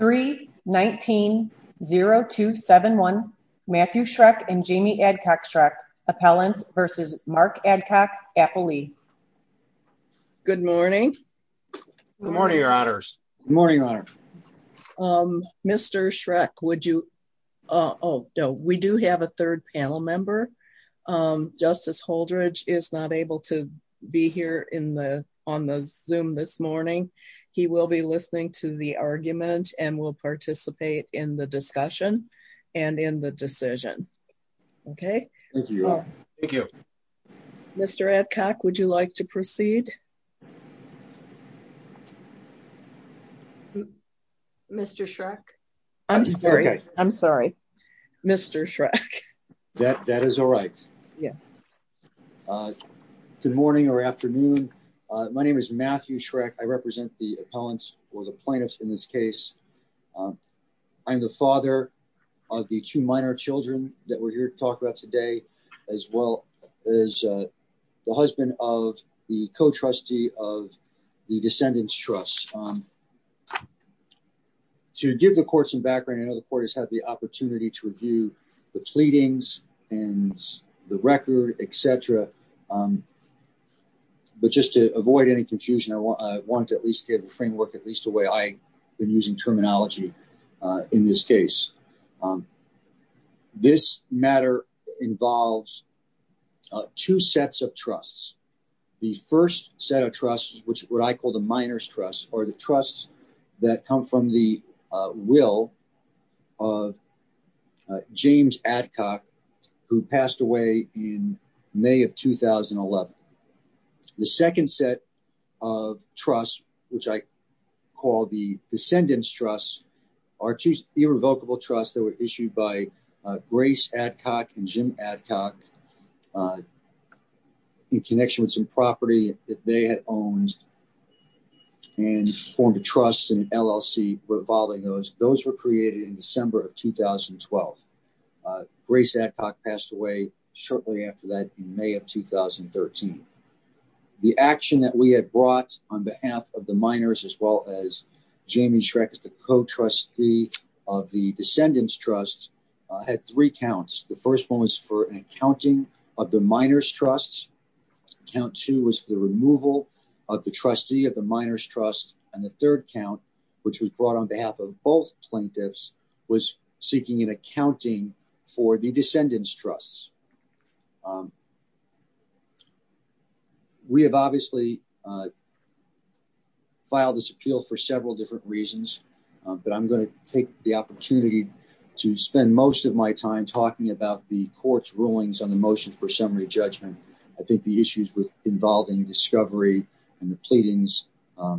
3-19-0271 Matthew Schreck and Jamie Adcock-Schreck Appellants v. Mark Adcock-Applely Good morning Good morning, your honors Good morning, your honor Mr. Schreck, would you... We do have a third panel member Justice Holdredge is not able to be here on the Zoom this morning He will be listening to the argument and will participate in the discussion and in the decision Okay? Thank you Thank you Mr. Adcock, would you like to proceed? Mr. Schreck I'm sorry I'm sorry Mr. Schreck That is all right Yeah Good morning or afternoon My name is Matthew Schreck. I represent the appellants or the plaintiffs in this case I'm the father of the two minor children that we're here to talk about today, as well as the husband of the co-trustee of the Descendants Trust To give the court some background, I know the court has had the opportunity to review the pleadings and the record, etc. But just to avoid any confusion, I want to at least give a framework, at least the way I've been using terminology in this case This matter involves two sets of trusts The first set of trusts, which I call the Minors Trust, are the trusts that come from the will of James Adcock, who passed away in May of 2011 The second set of trusts, which I call the Descendants Trust, are two irrevocable trusts that were issued by Grace Adcock and Jim Adcock in connection with some property that they had owned and formed a trust and LLC revolving those. Those were created in December of 2012 Grace Adcock passed away shortly after that in May of 2013 The action that we had brought on behalf of the minors, as well as Jamie Schreck, the co-trustee of the Descendants Trust, had three counts The first one was for an accounting of the Minors Trust Count two was for the removal of the trustee of the Minors Trust And the third count, which was brought on behalf of both plaintiffs, was seeking an accounting for the Descendants Trust We have obviously filed this appeal for several different reasons But I'm going to take the opportunity to spend most of my time talking about the court's rulings on the motion for summary judgment I think the issues involving discovery and the pleadings, for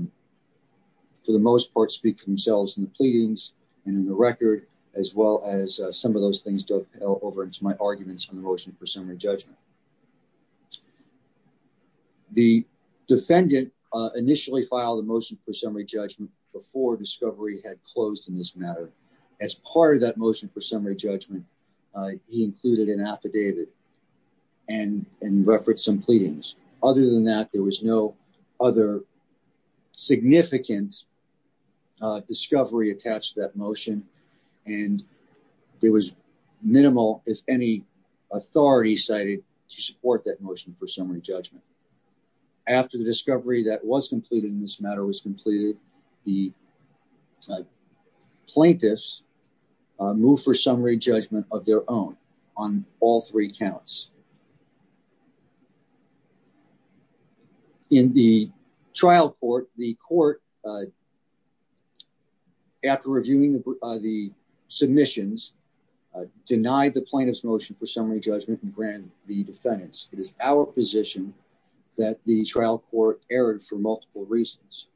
the most part, speak for themselves in the pleadings and in the record, as well as some of those things dovetail over into my arguments on the motion for summary judgment The defendant initially filed a motion for summary judgment before discovery had closed in this matter As part of that motion for summary judgment, he included an affidavit and referenced some pleadings Other than that, there was no other significant discovery attached to that motion And there was minimal, if any, authority cited to support that motion for summary judgment After the discovery that was completed in this matter was completed, the plaintiffs moved for summary judgment of their own on all three counts In the trial court, the court, after reviewing the submissions, denied the plaintiff's motion for summary judgment and granted the defendant's It is our position that the trial court erred for multiple reasons,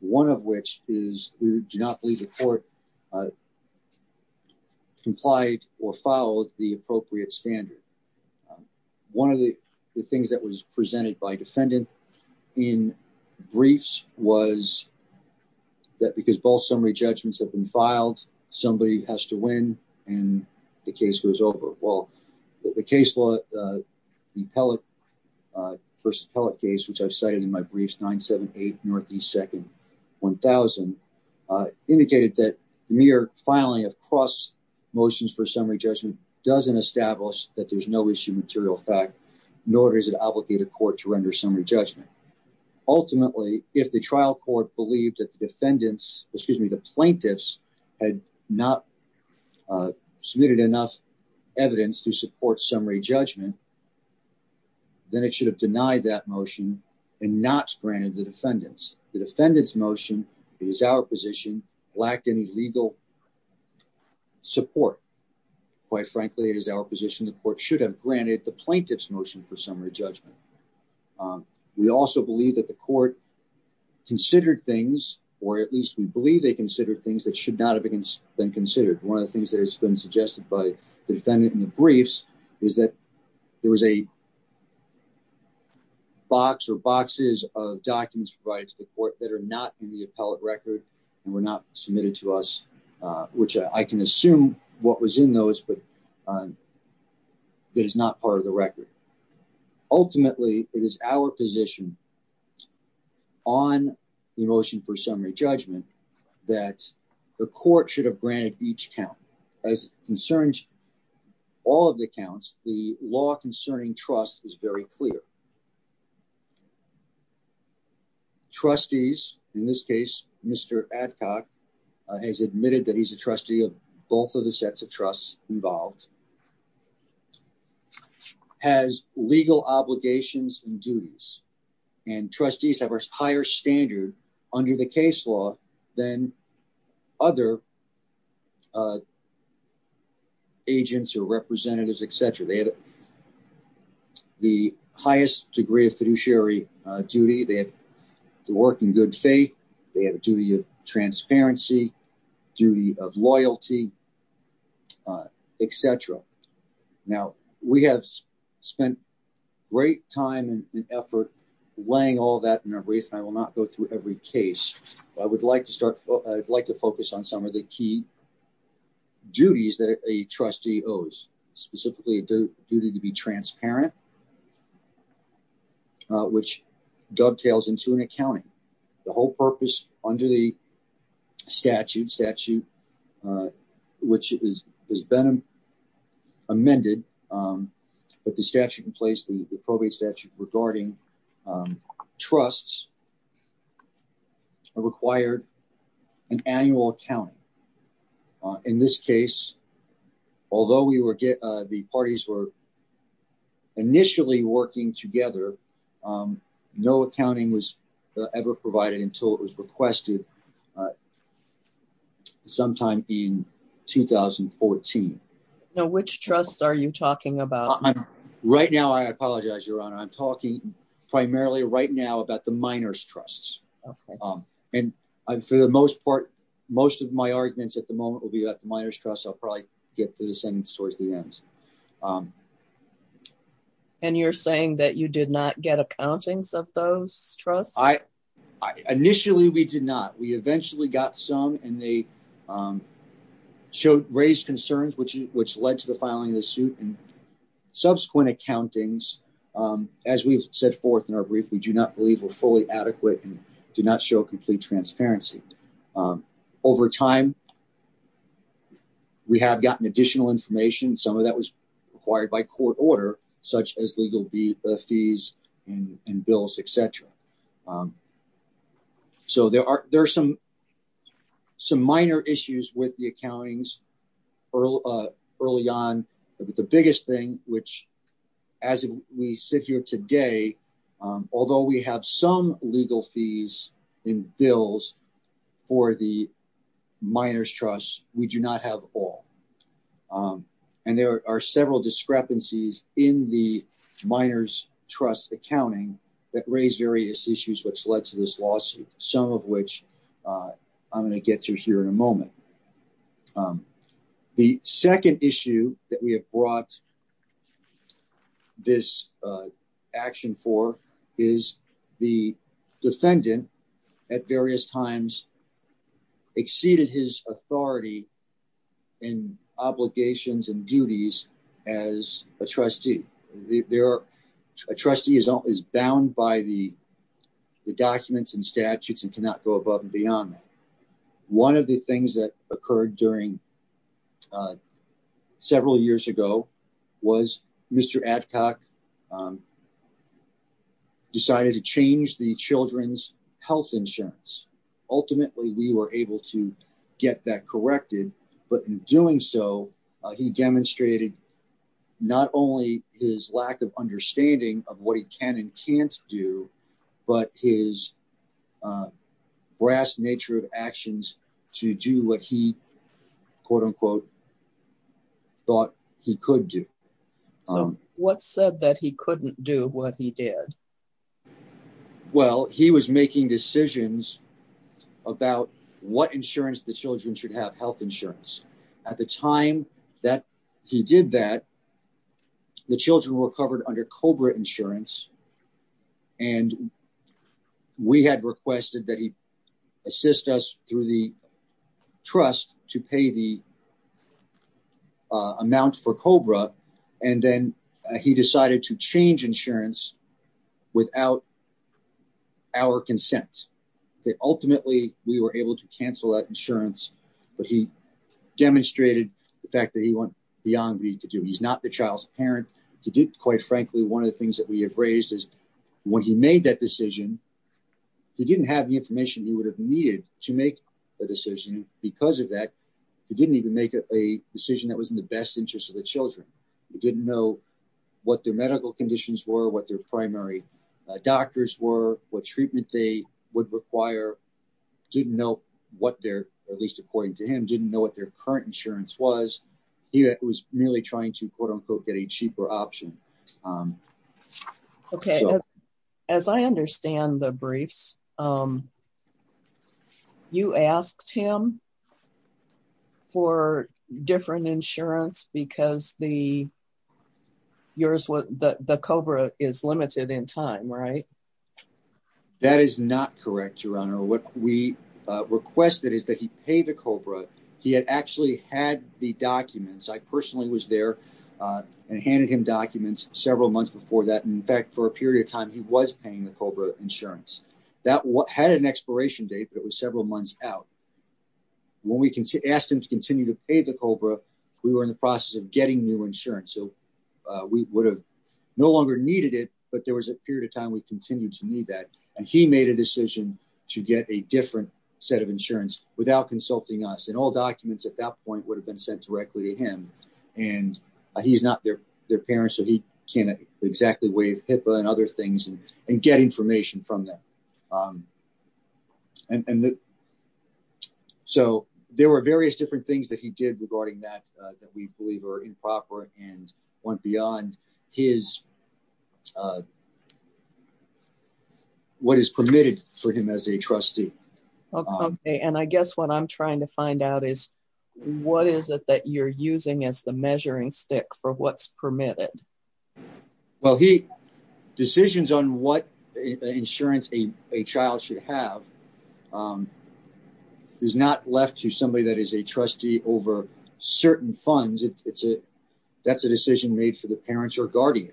one of which is we do not believe the court complied or followed the appropriate standard One of the things that was presented by defendant in briefs was that because both summary judgments have been filed, somebody has to win and the case goes over The case law, the Pellet v. Pellet case, which I've cited in my briefs, 978 N.E. 2nd, 1000, indicated that mere filing of cross motions for summary judgment doesn't establish that there's no issue material fact Nor does it obligate a court to render summary judgment Ultimately, if the trial court believed that the plaintiffs had not submitted enough evidence to support summary judgment, then it should have denied that motion and not granted the defendants The defendant's motion, it is our position, lacked any legal support Quite frankly, it is our position the court should have granted the plaintiff's motion for summary judgment We also believe that the court considered things, or at least we believe they considered things that should not have been considered One of the things that has been suggested by the defendant in the briefs is that there was a box or boxes of documents provided to the court that are not in the appellate record and were not submitted to us, which I can assume what was in those, but that is not part of the record Ultimately, it is our position on the motion for summary judgment that the court should have granted each count as concerns all of the accounts. The law concerning trust is very clear Trustees, in this case, Mr. Adcock has admitted that he's a trustee of both of the sets of trusts involved Mr. Adcock has legal obligations and duties, and trustees have a higher standard under the case law than other agents or representatives, etc. They have the highest degree of fiduciary duty, they have to work in good faith, they have a duty of transparency, duty of loyalty, etc. Now, we have spent great time and effort weighing all that in our briefs, and I will not go through every case, but I would like to focus on some of the key duties that a trustee owes, specifically a duty to be transparent, which dovetails into an accounting The whole purpose under the statute, which has been amended, but the statute in place, the probate statute regarding trusts, required an annual accounting In this case, although the parties were initially working together, no accounting was ever provided until it was requested sometime in 2014 Now, which trusts are you talking about? Right now, I apologize, Your Honor, I'm talking primarily right now about the minors' trusts, and for the most part, most of my arguments at the moment will be about the minors' trusts, I'll probably get to the sentence towards the end And you're saying that you did not get accountings of those trusts? Initially, we did not. We eventually got some, and they raised concerns, which led to the filing of the suit, and subsequent accountings, as we've set forth in our brief, we do not believe were fully adequate and do not show complete transparency Over time, we have gotten additional information, some of that was required by court order, such as legal fees and bills, etc. So there are some minor issues with the accountings early on, but the biggest thing, which, as we sit here today, although we have some legal fees and bills for the minors' trusts, we do not have all And there are several discrepancies in the minors' trust accounting that raise various issues which led to this lawsuit, some of which I'm going to get to here in a moment The second issue that we have brought this action for is the defendant, at various times, exceeded his authority in obligations and duties as a trustee A trustee is bound by the documents and statutes and cannot go above and beyond that One of the things that occurred several years ago was Mr. Adcock decided to change the children's health insurance Ultimately, we were able to get that corrected, but in doing so, he demonstrated not only his lack of understanding of what he can and can't do, but his brass nature of actions to do what he, quote unquote, thought he could do So what said that he couldn't do what he did? Well, he was making decisions about what insurance the children should have, health insurance without our consent Ultimately, we were able to cancel that insurance, but he demonstrated the fact that he went beyond what he could do He's not the child's parent. He did, quite frankly, one of the things that we have raised is when he made that decision, he didn't have the information he would have needed to make a decision Because of that, he didn't even make a decision that was in the best interest of the children He didn't know what their medical conditions were, what their primary doctors were, what treatment they would require Didn't know what their, at least according to him, didn't know what their current insurance was He was merely trying to, quote unquote, get a cheaper option Okay, as I understand the briefs, you asked him for different insurance because the COBRA is limited in time, right? That is not correct, Your Honor What we requested is that he pay the COBRA. He had actually had the documents. I personally was there and handed him documents several months before that In fact, for a period of time, he was paying the COBRA insurance. That had an expiration date, but it was several months out When we asked him to continue to pay the COBRA, we were in the process of getting new insurance So we would have no longer needed it, but there was a period of time we continued to need that And he made a decision to get a different set of insurance without consulting us And all documents at that point would have been sent directly to him And he's not their parent, so he can't exactly waive HIPAA and other things and get information from them So there were various different things that he did regarding that that we believe are improper and went beyond what is permitted for him as a trustee Okay, and I guess what I'm trying to find out is, what is it that you're using as the measuring stick for what's permitted? Well, decisions on what insurance a child should have is not left to somebody that is a trustee over certain funds That's a decision made for the parents or guardian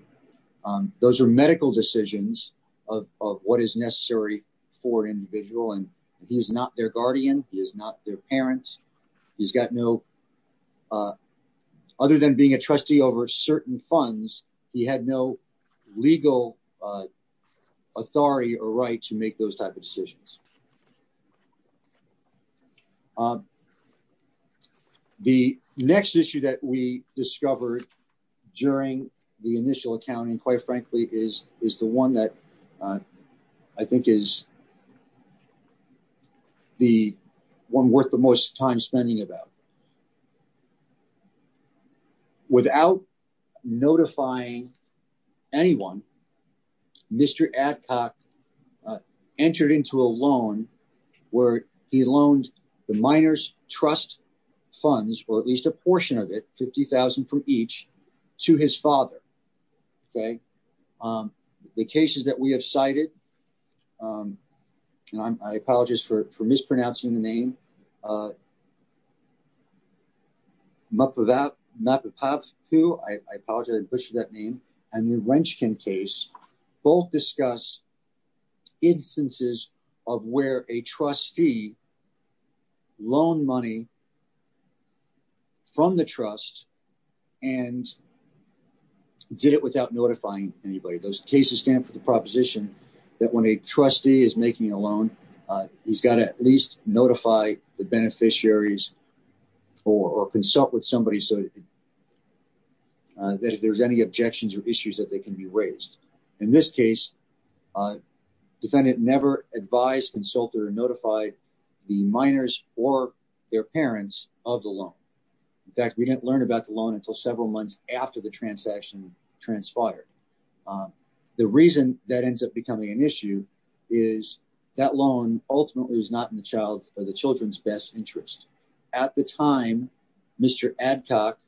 Those are medical decisions of what is necessary for an individual, and he is not their guardian, he is not their parent He's got no, other than being a trustee over certain funds, he had no legal authority or right to make those type of decisions The next issue that we discovered during the initial accounting, quite frankly, is the one that I think is the one worth the most time spending about Without notifying anyone, Mr. Adcock entered into a loan where he loaned the Miners Trust funds, or at least a portion of it, $50,000 from each, to his father Okay, the cases that we have cited, and I apologize for mispronouncing the name, Mappapahu, I apologize for that name, and the Wrenchkin case, both discuss instances of where a trustee loaned money from the trust And did it without notifying anybody, those cases stand for the proposition that when a trustee is making a loan, he's got to at least notify the beneficiaries or consult with somebody so that if there's any objections or issues that they can be raised In this case, a defendant never advised, consulted, or notified the miners or their parents of the loan. In fact, we didn't learn about the loan until several months after the transaction transpired The reason that ends up becoming an issue is that loan ultimately is not in the children's best interest. At the time, Mr. Adcock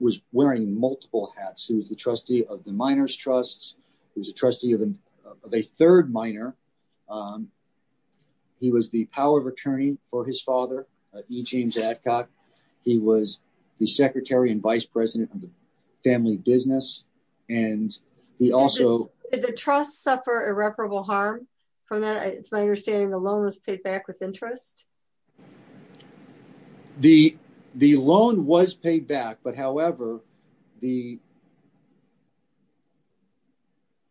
was wearing multiple hats. He was the trustee of the Miners Trust, he was a trustee of a third miner He was the power of attorney for his father, E. James Adcock. He was the secretary and vice president of the family business, and he also Did the trust suffer irreparable harm from that? It's my understanding the loan was paid back with interest The loan was paid back, but however,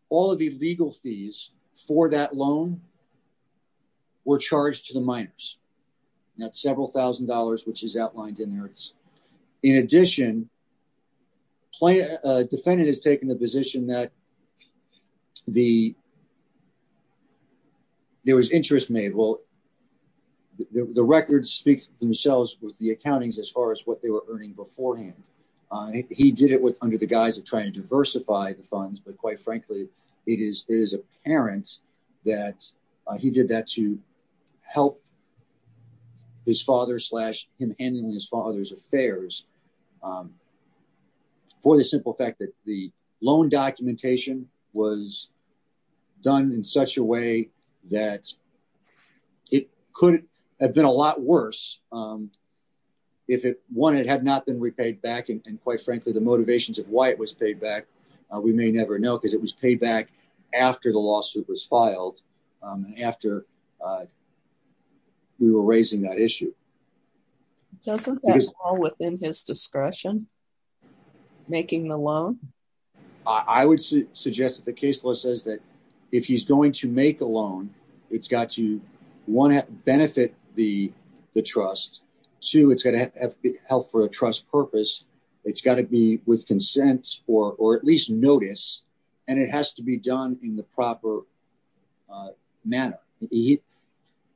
all of the legal fees for that loan were charged to the miners. That's several thousand dollars, which is outlined in there In addition, a defendant has taken the position that there was interest made. The records speak for themselves with the accountings as far as what they were earning beforehand He did it under the guise of trying to diversify the funds, but quite frankly, it is apparent that he did that to help his father, slash him handling his father's affairs For the simple fact that the loan documentation was done in such a way that it could have been a lot worse if it had not been repaid back. And quite frankly, the motivations of why it was paid back, we may never know because it was paid back after the lawsuit was filed After we were raising that issue. Doesn't that fall within his discretion? Making the loan? I would suggest that the case law says that if he's going to make a loan, it's got to, one, benefit the trust. Two, it's going to help for a trust purpose. It's got to be with consent or at least notice, and it has to be done in the proper manner.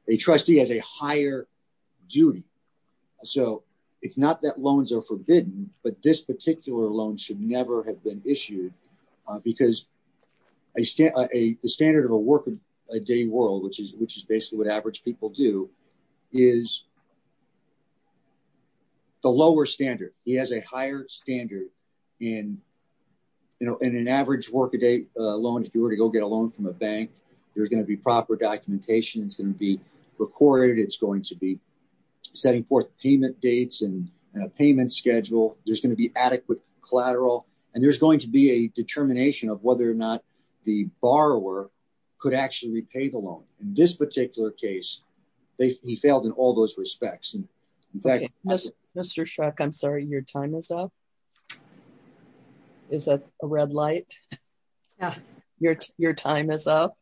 A trustee has a higher duty. So it's not that loans are forbidden, but this particular loan should never have been issued because the standard of a work-a-day world, which is basically what average people do, is the lower standard. He has a higher standard. In an average work-a-day loan, if you were to go get a loan from a bank, there's going to be proper documentation. It's going to be recorded. It's going to be setting forth payment dates and a payment schedule. There's going to be adequate collateral. And there's going to be a determination of whether or not the borrower could actually repay the loan. In this particular case, he failed in all those respects. Mr. Shrek, I'm sorry, your time is up. Is that a red light? Yeah. Your time is up.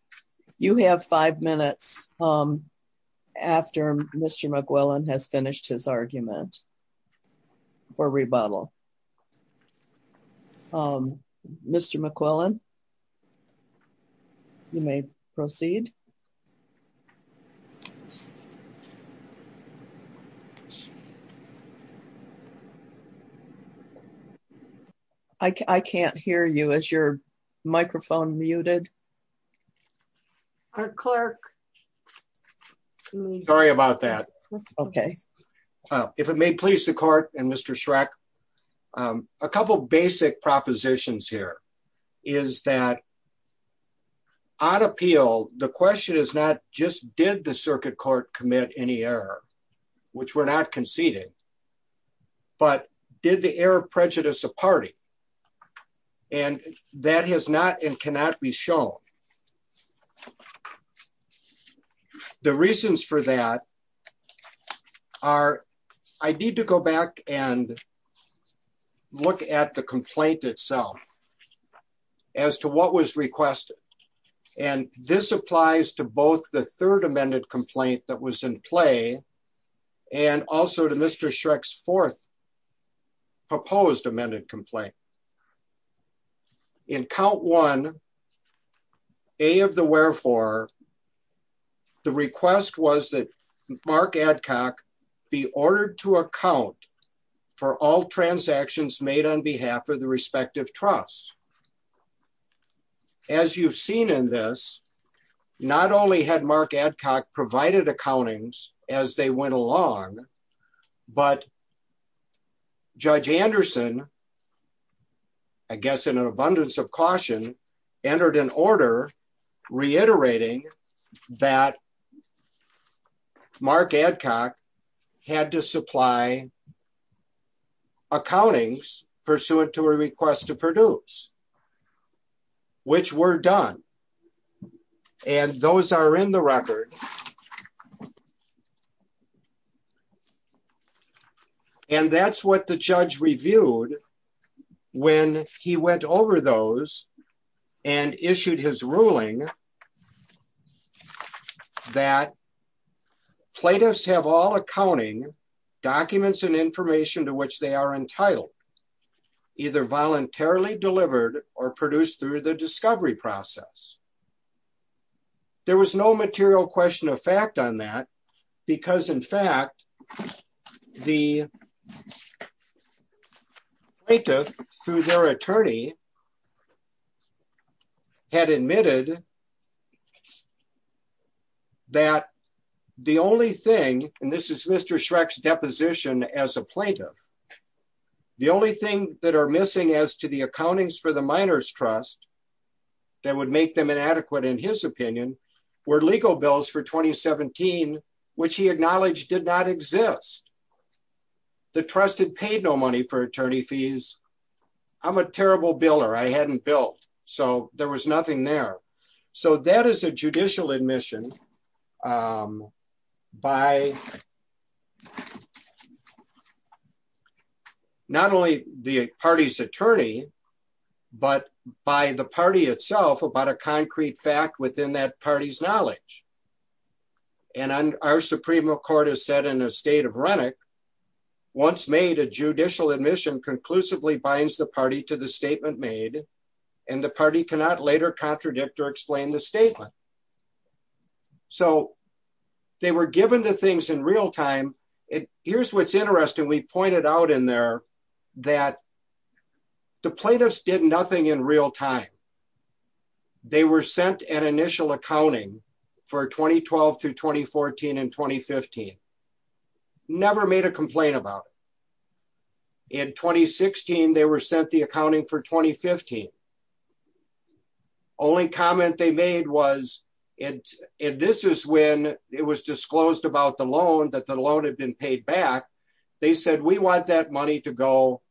You have five minutes after Mr. McQuillan has finished his argument for rebuttal. Mr. McQuillan, you may proceed. I can't hear you. Is your microphone muted? Clerk. Okay. If it may please the court and Mr. Shrek, a couple basic propositions here is that on appeal, the question is not just did the circuit court commit any error, which were not conceded, but did the error prejudice a party? And that has not and cannot be shown. The reasons for that are, I need to go back and look at the complaint itself as to what was requested. And this applies to both the third amended complaint that was in play and also to Mr. Shrek's fourth proposed amended complaint. In count one, A of the wherefore, the request was that Mark Adcock be ordered to account for all transactions made on behalf of the respective trust. As you've seen in this, not only had Mark Adcock provided accountings as they went along, but Judge Anderson, I guess in an abundance of caution, entered an order reiterating that Mark Adcock had to supply accountings pursuant to a request to produce. Which were done and those are in the record. And that's what the judge reviewed when he went over those and issued his ruling that plaintiffs have all accounting documents and information to which they are entitled, either voluntarily delivered or produced through the discovery process. There was no material question of fact on that, because in fact, the plaintiff through their attorney had admitted that the only thing, and this is Mr. Shrek's deposition as a plaintiff. The only thing that are missing as to the accountings for the miners trust that would make them inadequate, in his opinion, were legal bills for 2017, which he acknowledged did not exist. The trusted paid no money for attorney fees. I'm a terrible bill or I hadn't built, so there was nothing there. So that is a judicial admission by not only the party's attorney, but by the party itself about a concrete fact within that party's knowledge. And our Supreme Court has said in a state of Renwick, once made a judicial admission conclusively binds the party to the statement made, and the party cannot later contradict or explain the statement. So, they were given the things in real time. It. Here's what's interesting we pointed out in there that the plaintiffs did nothing in real time. They were sent an initial accounting for 2012 through 2014 and 2015 never made a complaint about in 2016 they were sent the accounting for 2015. Only comment they made was it. And this is when it was disclosed about the loan that the loan had been paid back. They said we want that money to go,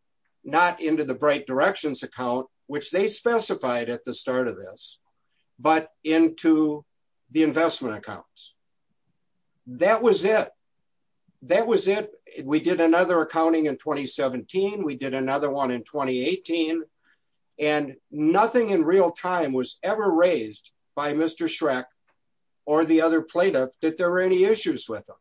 not into the bright directions account, which they specified at the start of this, but into the investment accounts. That was it. That was it. We did another accounting in 2017 we did another one in 2018, and nothing in real time was ever raised by Mr Shrek, or the other plaintiff that there were any issues with them.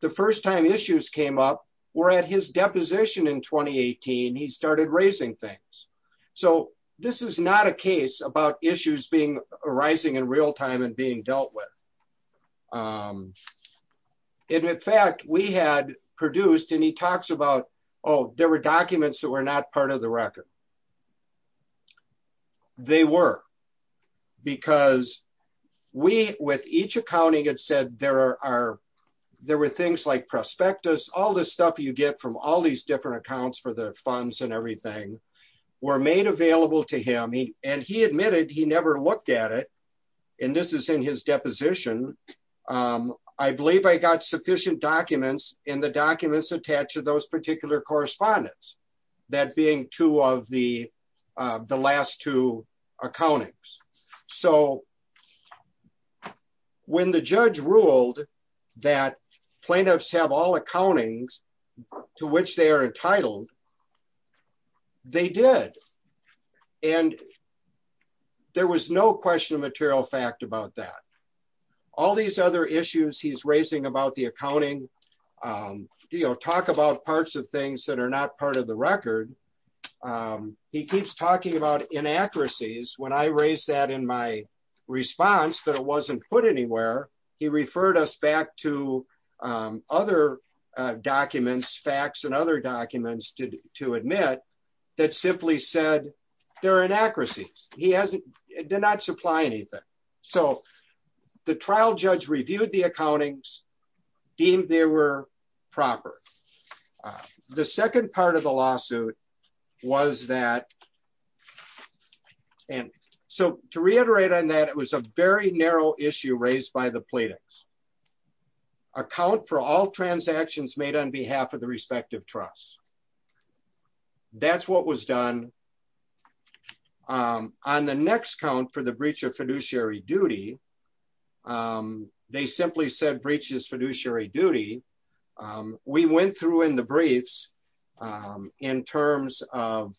The first time issues came up. We're at his deposition in 2018 he started raising things. So, this is not a case about issues being arising in real time and being dealt with. In fact, we had produced and he talks about, oh, there were documents that were not part of the record. They were, because we with each accounting it said there are, there were things like prospectus all this stuff you get from all these different accounts for the funds and everything were made available to him and he admitted he never looked at it. And this is in his deposition. I believe I got sufficient documents in the documents attached to those particular correspondence. That being two of the, the last two accountants. So, when the judge ruled that plaintiffs have all accountings, to which they are entitled. They did. And there was no question of material fact about that. All these other issues he's raising about the accounting deal talk about parts of things that are not part of the record. He keeps talking about inaccuracies when I raised that in my response that it wasn't put anywhere. He referred us back to other documents facts and other documents to admit that simply said, there are inaccuracies, he hasn't did not supply anything. So, the trial judge reviewed the accountings deemed they were proper. The second part of the lawsuit was that. And so, to reiterate on that it was a very narrow issue raised by the plaintiffs account for all transactions made on behalf of the respective trust. That's what was done on the next count for the breach of fiduciary duty. They simply said breaches fiduciary duty. We went through in the briefs, in terms of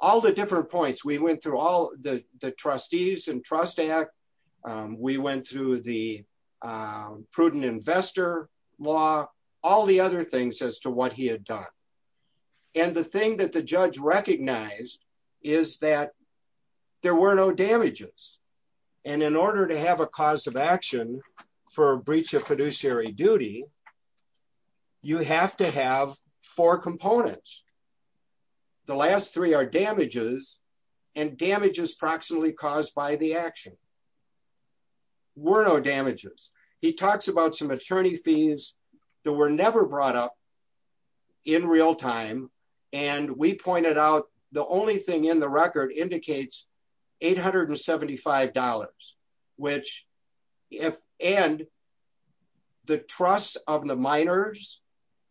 all the different points we went through all the trustees and trust act. We went through the prudent investor law, all the other things as to what he had done. And the thing that the judge recognized is that there were no damages. And in order to have a cause of action for breach of fiduciary duty. You have to have four components. The last three are damages and damages approximately caused by the action. We're no damages. He talks about some attorney fees that were never brought up in real time. And we pointed out, the only thing in the record indicates $875, which, if, and the trust of the minors,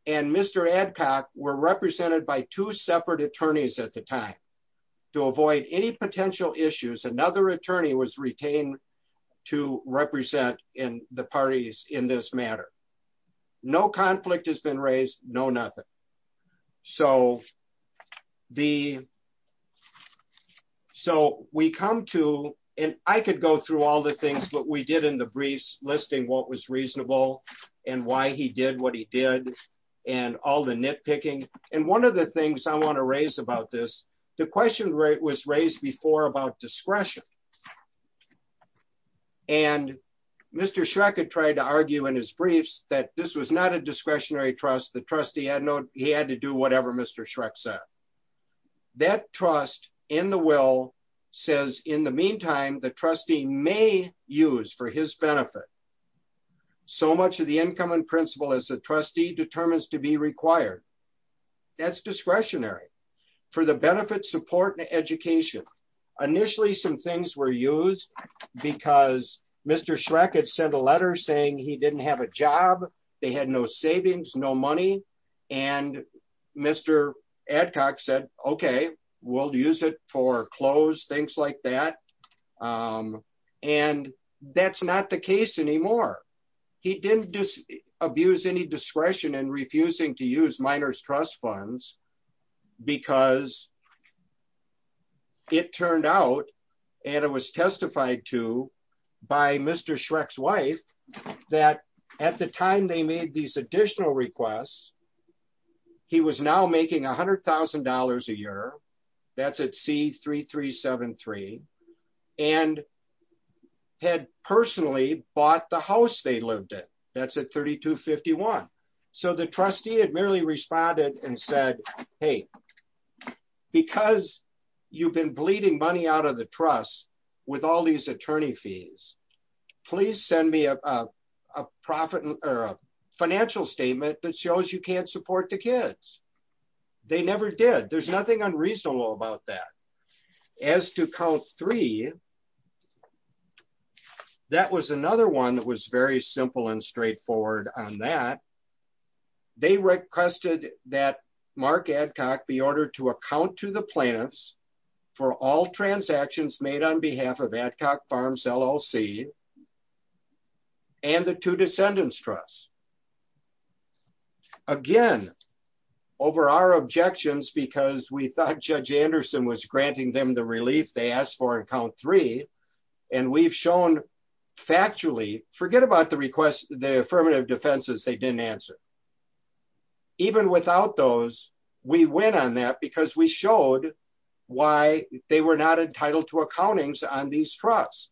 and Mr adcock were represented by two separate attorneys at the time to avoid any potential issues. Another attorney was retained to represent in the parties in this matter. No conflict has been raised. No, nothing. So, the. So, we come to, and I could go through all the things that we did in the briefs listing what was reasonable, and why he did what he did, and all the nitpicking. And one of the things I want to raise about this. The question was raised before about discretion. And Mr Shrek had tried to argue in his briefs that this was not a discretionary trust the trustee had no, he had to do whatever Mr Shrek said that trust in the will says, in the meantime, the trustee may use for his benefit. So much of the income and principle as a trustee determines to be required. That's discretionary for the benefit support and education. Initially some things were used because Mr Shrek had sent a letter saying he didn't have a job. They had no savings no money. And Mr. Adcock said, Okay, we'll use it for clothes things like that. And that's not the case anymore. He didn't just abuse any discretion and refusing to use minors trust funds, because it turned out. And it was testified to by Mr Shrek's wife, that at the time they made these additional requests. He was now making $100,000 a year. That's it c 3373 and had personally bought the house they lived in. That's a 3251. So the trustee had merely responded and said, Hey, because you've been bleeding money out of the truck. With all these attorney fees. Please send me a profit or financial statement that shows you can't support the kids. They never did. There's nothing unreasonable about that. As to count three. That was another one that was very simple and straightforward on that. They requested that Mark Adcock be ordered to account to the plans for all transactions made on behalf of ad hoc farms LLC. And the two descendants trust. Again, over our objections because we thought Judge Anderson was granting them the relief they asked for account three, and we've shown factually forget about the request, the affirmative defenses they didn't answer. Even without those, we went on that because we showed why they were not entitled to accountings on these trucks,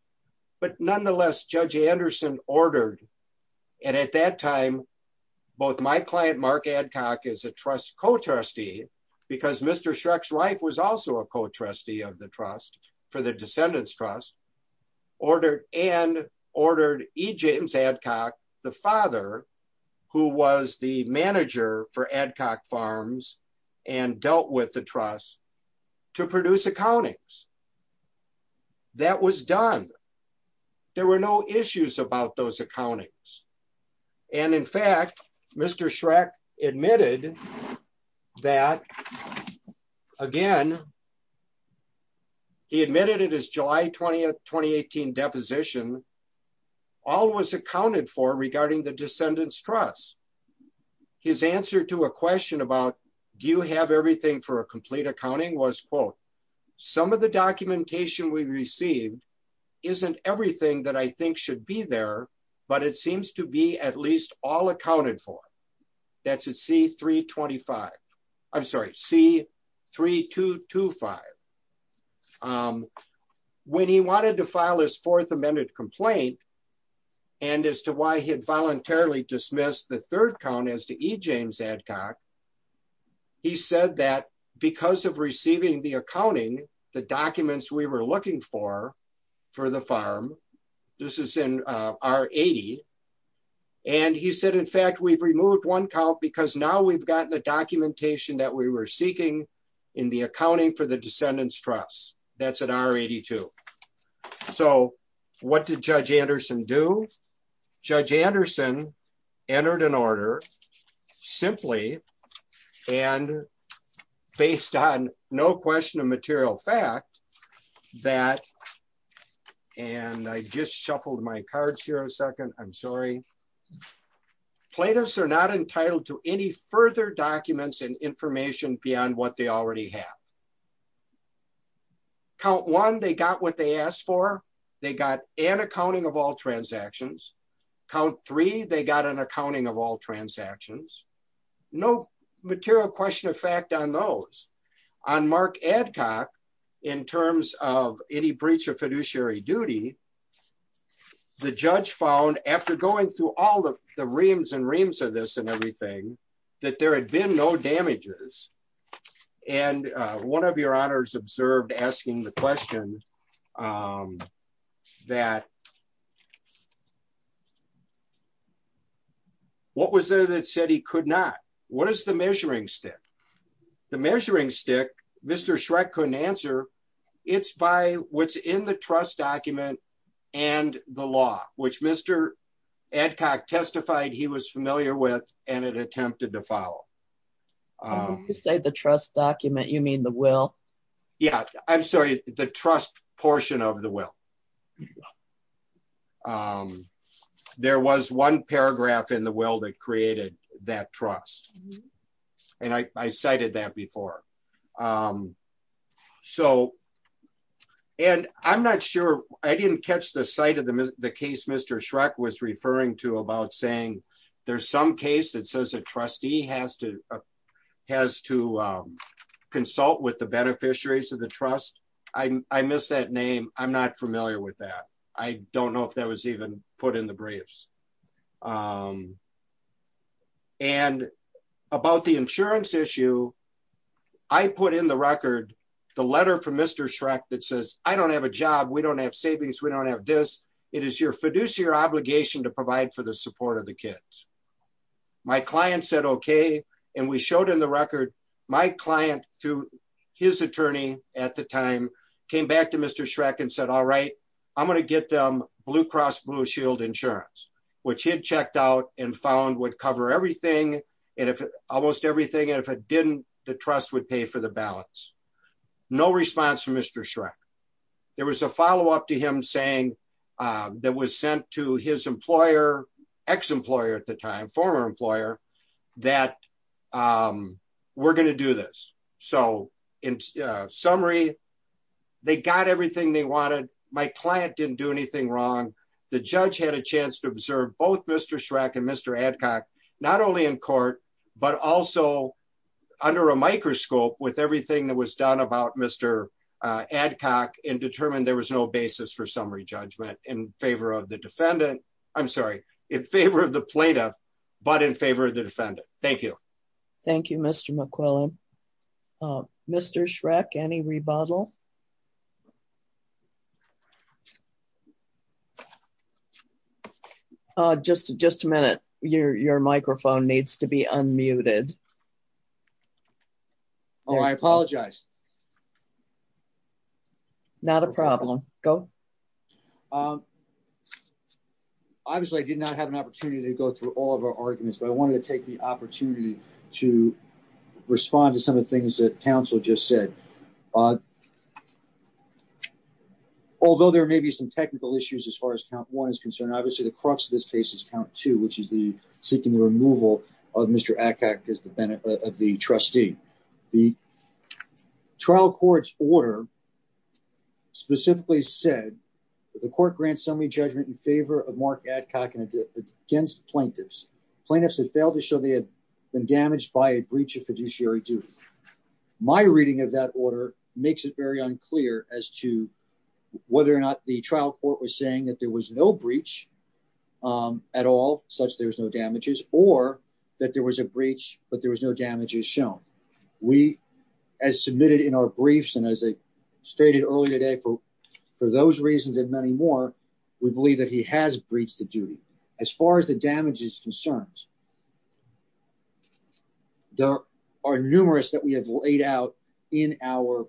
but nonetheless Judge Anderson ordered. And at that time, both my client Mark Adcock is a trust co trustee, because Mr Shrek's wife was also a co trustee of the trust for the descendants trust ordered and ordered a James Adcock, the father who was the manager for ad hoc farms and dealt with the trust to produce accountings. That was done. There were no issues about those accountings. And in fact, Mr Shrek admitted that, again, he admitted it is July 20 2018 deposition. All was accounted for regarding the descendants trust. His answer to a question about, do you have everything for a complete accounting was quote, some of the documentation we received isn't everything that I think should be there, but it seems to be at least all accounted for. That's a C 325. I'm sorry, see 3225. When he wanted to file his fourth amended complaint. And as to why he had voluntarily dismissed the third count as to eat James Adcock. He said that because of receiving the accounting, the documents we were looking for, for the farm. This is in our 80. And he said in fact we've removed one count because now we've gotten the documentation that we were seeking in the accounting for the descendants trust. That's an hour at two. So, what did Judge Anderson do. Judge Anderson entered an order. Simply, and based on no question of material fact that. And I just shuffled my cards here a second, I'm sorry. Plato's are not entitled to any further documents and information beyond what they already have. Count one they got what they asked for. They got an accounting of all transactions count three they got an accounting of all transactions, no material question of fact on those on Mark Adcock, in terms of any breach of fiduciary duty. The judge found after going through all the reams and reams of this and everything that there had been no damages. And one of your honors observed asking the question that what was there that said he could not. What is the measuring stick. The measuring stick. Mr Shrek couldn't answer. It's by what's in the trust document, and the law, which Mr. Adcock testified he was familiar with, and it attempted to follow the trust document you mean the will. Yeah, I'm sorry, the trust portion of the will. There was one paragraph in the will that created that trust. And I cited that before. So, and I'm not sure I didn't catch the site of the case Mr Shrek was referring to about saying there's some case that says a trustee has to has to consult with the beneficiaries of the trust. I missed that name. I'm not familiar with that. I don't know if that was even put in the briefs. And about the insurance issue. I put in the record, the letter from Mr Shrek that says, I don't have a job we don't have savings we don't have this. It is your fiduciary obligation to provide for the support of the kids. My client said okay, and we showed in the record, my client to his attorney at the time, came back to Mr Shrek and said all right, I'm going to get them blue cross blue shield insurance, which he had checked out and found would cover everything. And if almost everything and if it didn't, the trust would pay for the balance. No response from Mr Shrek. There was a follow up to him saying that was sent to his employer ex employer at the time former employer that we're going to do this. So, in summary, they got everything they wanted my client didn't do anything wrong. The judge had a chance to observe both Mr Shrek and Mr adcock, not only in court, but also under a microscope with everything that was done about Mr adcock and determine there was no basis for summary judgment in favor of the defendant. I'm sorry, in favor of the plaintiff, but in favor of the defendant. Thank you. Thank you, Mr McClellan. Mr Shrek any rebuttal. Just, just a minute, your, your microphone needs to be unmuted. Oh, I apologize. Not a problem. Go. Obviously I did not have an opportunity to go through all of our arguments but I wanted to take the opportunity to respond to some of the things that Council just said. Although there may be some technical issues as far as count one is concerned, obviously the crux of this case is count to which is the seeking the removal of Mr adcock is the benefit of the trustee. The trial courts order specifically said that the court grants me judgment in favor of Mark adcock and against plaintiffs plaintiffs have failed to show they have been damaged by a breach of fiduciary duties. My reading of that order makes it very unclear as to whether or not the trial court was saying that there was no breach at all, such there's no damages, or that there was a breach, but there was no damage is shown. We as submitted in our briefs and as I stated earlier today for, for those reasons and many more. We believe that he has breached the duty. As far as the damages concerns. There are numerous that we have laid out in our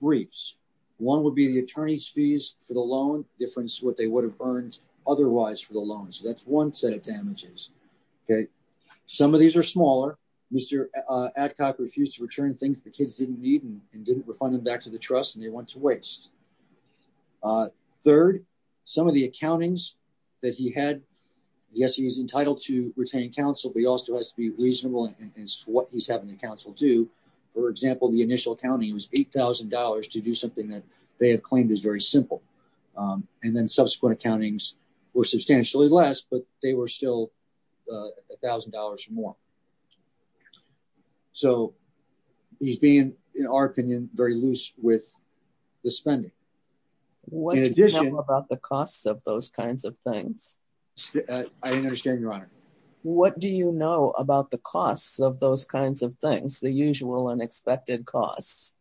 briefs. One would be the attorneys fees for the loan difference what they would have earned otherwise for the loan so that's one set of damages. Okay. Some of these are smaller. Mr. Adcock refused to return things the kids didn't need and didn't refund them back to the trust and they want to waste. Third, some of the accountings that he had. Yes, he's entitled to retain counsel but he also has to be reasonable and what he's having the council do. For example, the initial county was $8,000 to do something that they have claimed is very simple. And then subsequent accountings were substantially less but they were still $1,000 more. So, he's been, in our opinion, very loose with the spending. What about the costs of those kinds of things. I understand your honor. What do you know about the costs of those kinds of things the usual unexpected costs.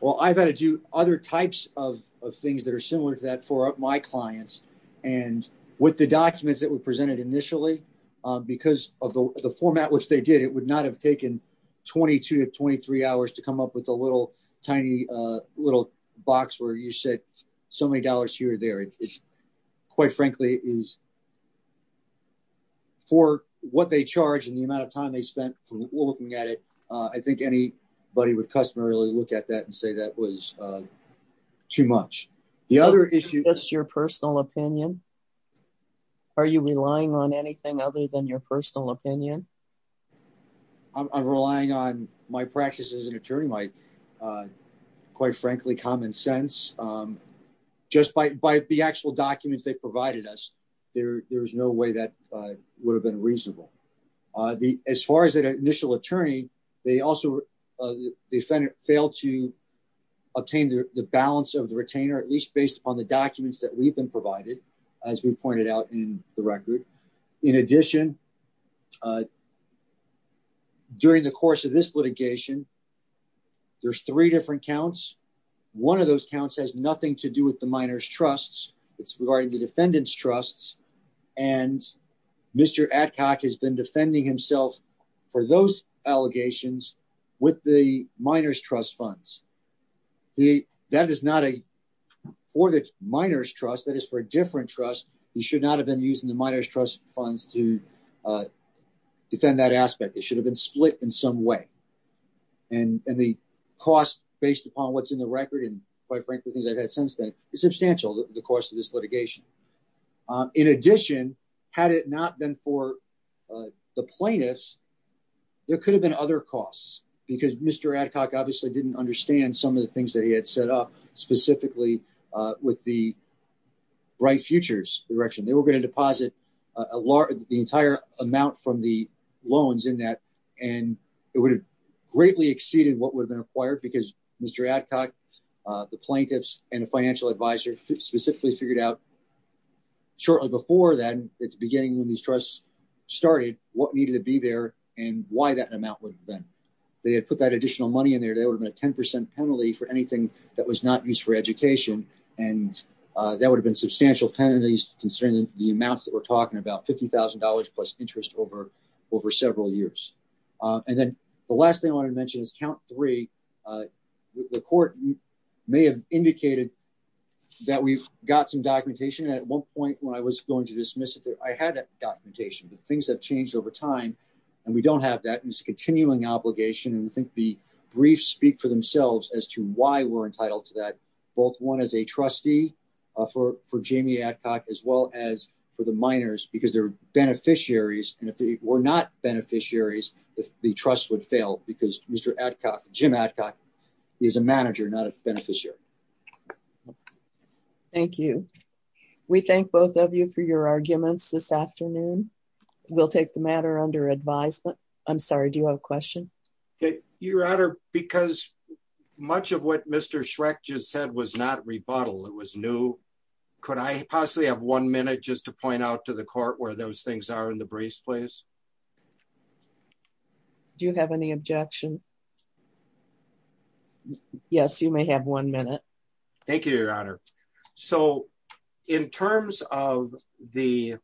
Well, I've had to do other types of things that are similar to that for my clients. And with the documents that were presented initially, because of the format which they did it would not have taken 22 to 23 hours to come up with a little tiny little box where you said, so many dollars here there is, quite frankly, is for what they charge and the amount of time they spent looking at it. I think anybody would customarily look at that and say that was too much. The other issue is your personal opinion. Are you relying on anything other than your personal opinion. I'm relying on my practice as an attorney my, quite frankly, common sense, just by the actual documents they provided us. There's no way that would have been reasonable. As far as that initial attorney. They also defend it failed to obtain the balance of the retainer at least based upon the documents that we've been provided, as we pointed out in the record. In addition, during the course of this litigation. There's three different counts. to defend that aspect, it should have been split in some way. And, and the cost, based upon what's in the record and, quite frankly, things I've had since then is substantial, the cost of this litigation. In addition, had it not been for the plaintiffs. There could have been other costs, because Mr Adcock obviously didn't understand some of the things that he had set up specifically with the bright futures direction they were going to deposit a lot of the entire amount from the loans in that. And it would have greatly exceeded what would have been acquired because Mr Adcock, the plaintiffs and a financial advisor specifically figured out shortly before then, it's beginning when these trusts started what needed to be there, and why that amount would have been, they had put that additional money in there they would have been a 10% penalty for anything that was not used for education, and that would have been substantial penalties, considering the amounts that we're talking about $50,000 plus interest over over several years. And then the last thing I want to mention is count three. The court may have indicated that we've got some documentation at one point when I was going to dismiss it that I had that documentation but things have changed over time. And we don't have that continuing obligation and we think the brief speak for themselves as to why we're entitled to that both one is a trustee for for Jamie Adcock, as well as for the minors because they're beneficiaries, and if they were not beneficiaries, the trust would fail because Mr Adcock Jim Adcock is a manager not a beneficiary. Thank you. We thank both of you for your arguments this afternoon. We'll take the matter under advisement. I'm sorry, do you have a question. Your Honor, because much of what Mr Shrek just said was not rebuttal it was new. Could I possibly have one minute just to point out to the court where those things are in the briefs place. Do you have any objection. Yes, you may have one minute. Thank you, Your Honor. So, in terms of the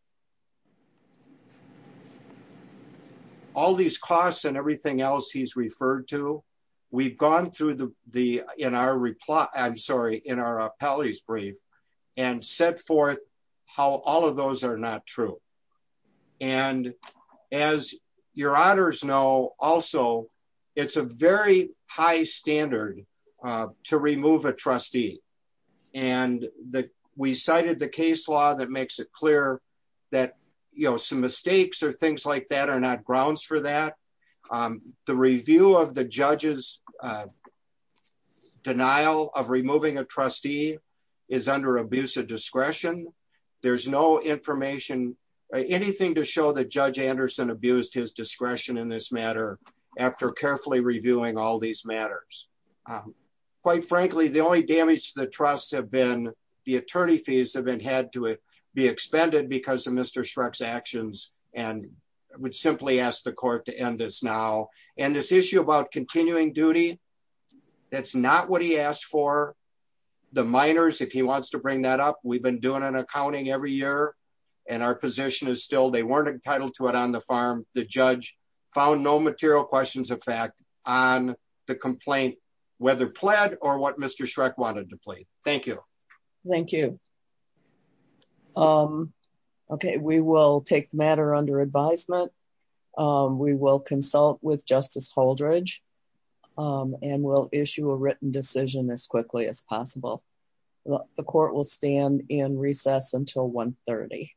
all these costs and everything else he's referred to. We've gone through the, the, in our reply, I'm sorry, in our appellees brief and set forth how all of those are not true. And as your honors know, also, it's a very high standard to remove a trustee, and that we cited the case law that makes it clear that, you know, some mistakes or things like that are not grounds for that. The review of the judges denial of removing a trustee is under abuse of discretion. There's no information, anything to show that Judge Anderson abused his discretion in this matter. After carefully reviewing all these matters. Quite frankly, the only damage to the trust have been the attorney fees have been had to be expended because of Mr Shrek's actions, and would simply ask the court to end this now, and this issue about continuing duty. That's not what he asked for the minors if he wants to bring that up we've been doing an accounting every year, and our position is still they weren't entitled to it on the farm, the judge found no material questions of fact, on the complaint, whether or what Mr Shrek wanted to play. Thank you. Thank you. Okay, we will take the matter under advisement. We will consult with Justice Holdridge, and we'll issue a written decision as quickly as possible. The court will stand in recess until 130.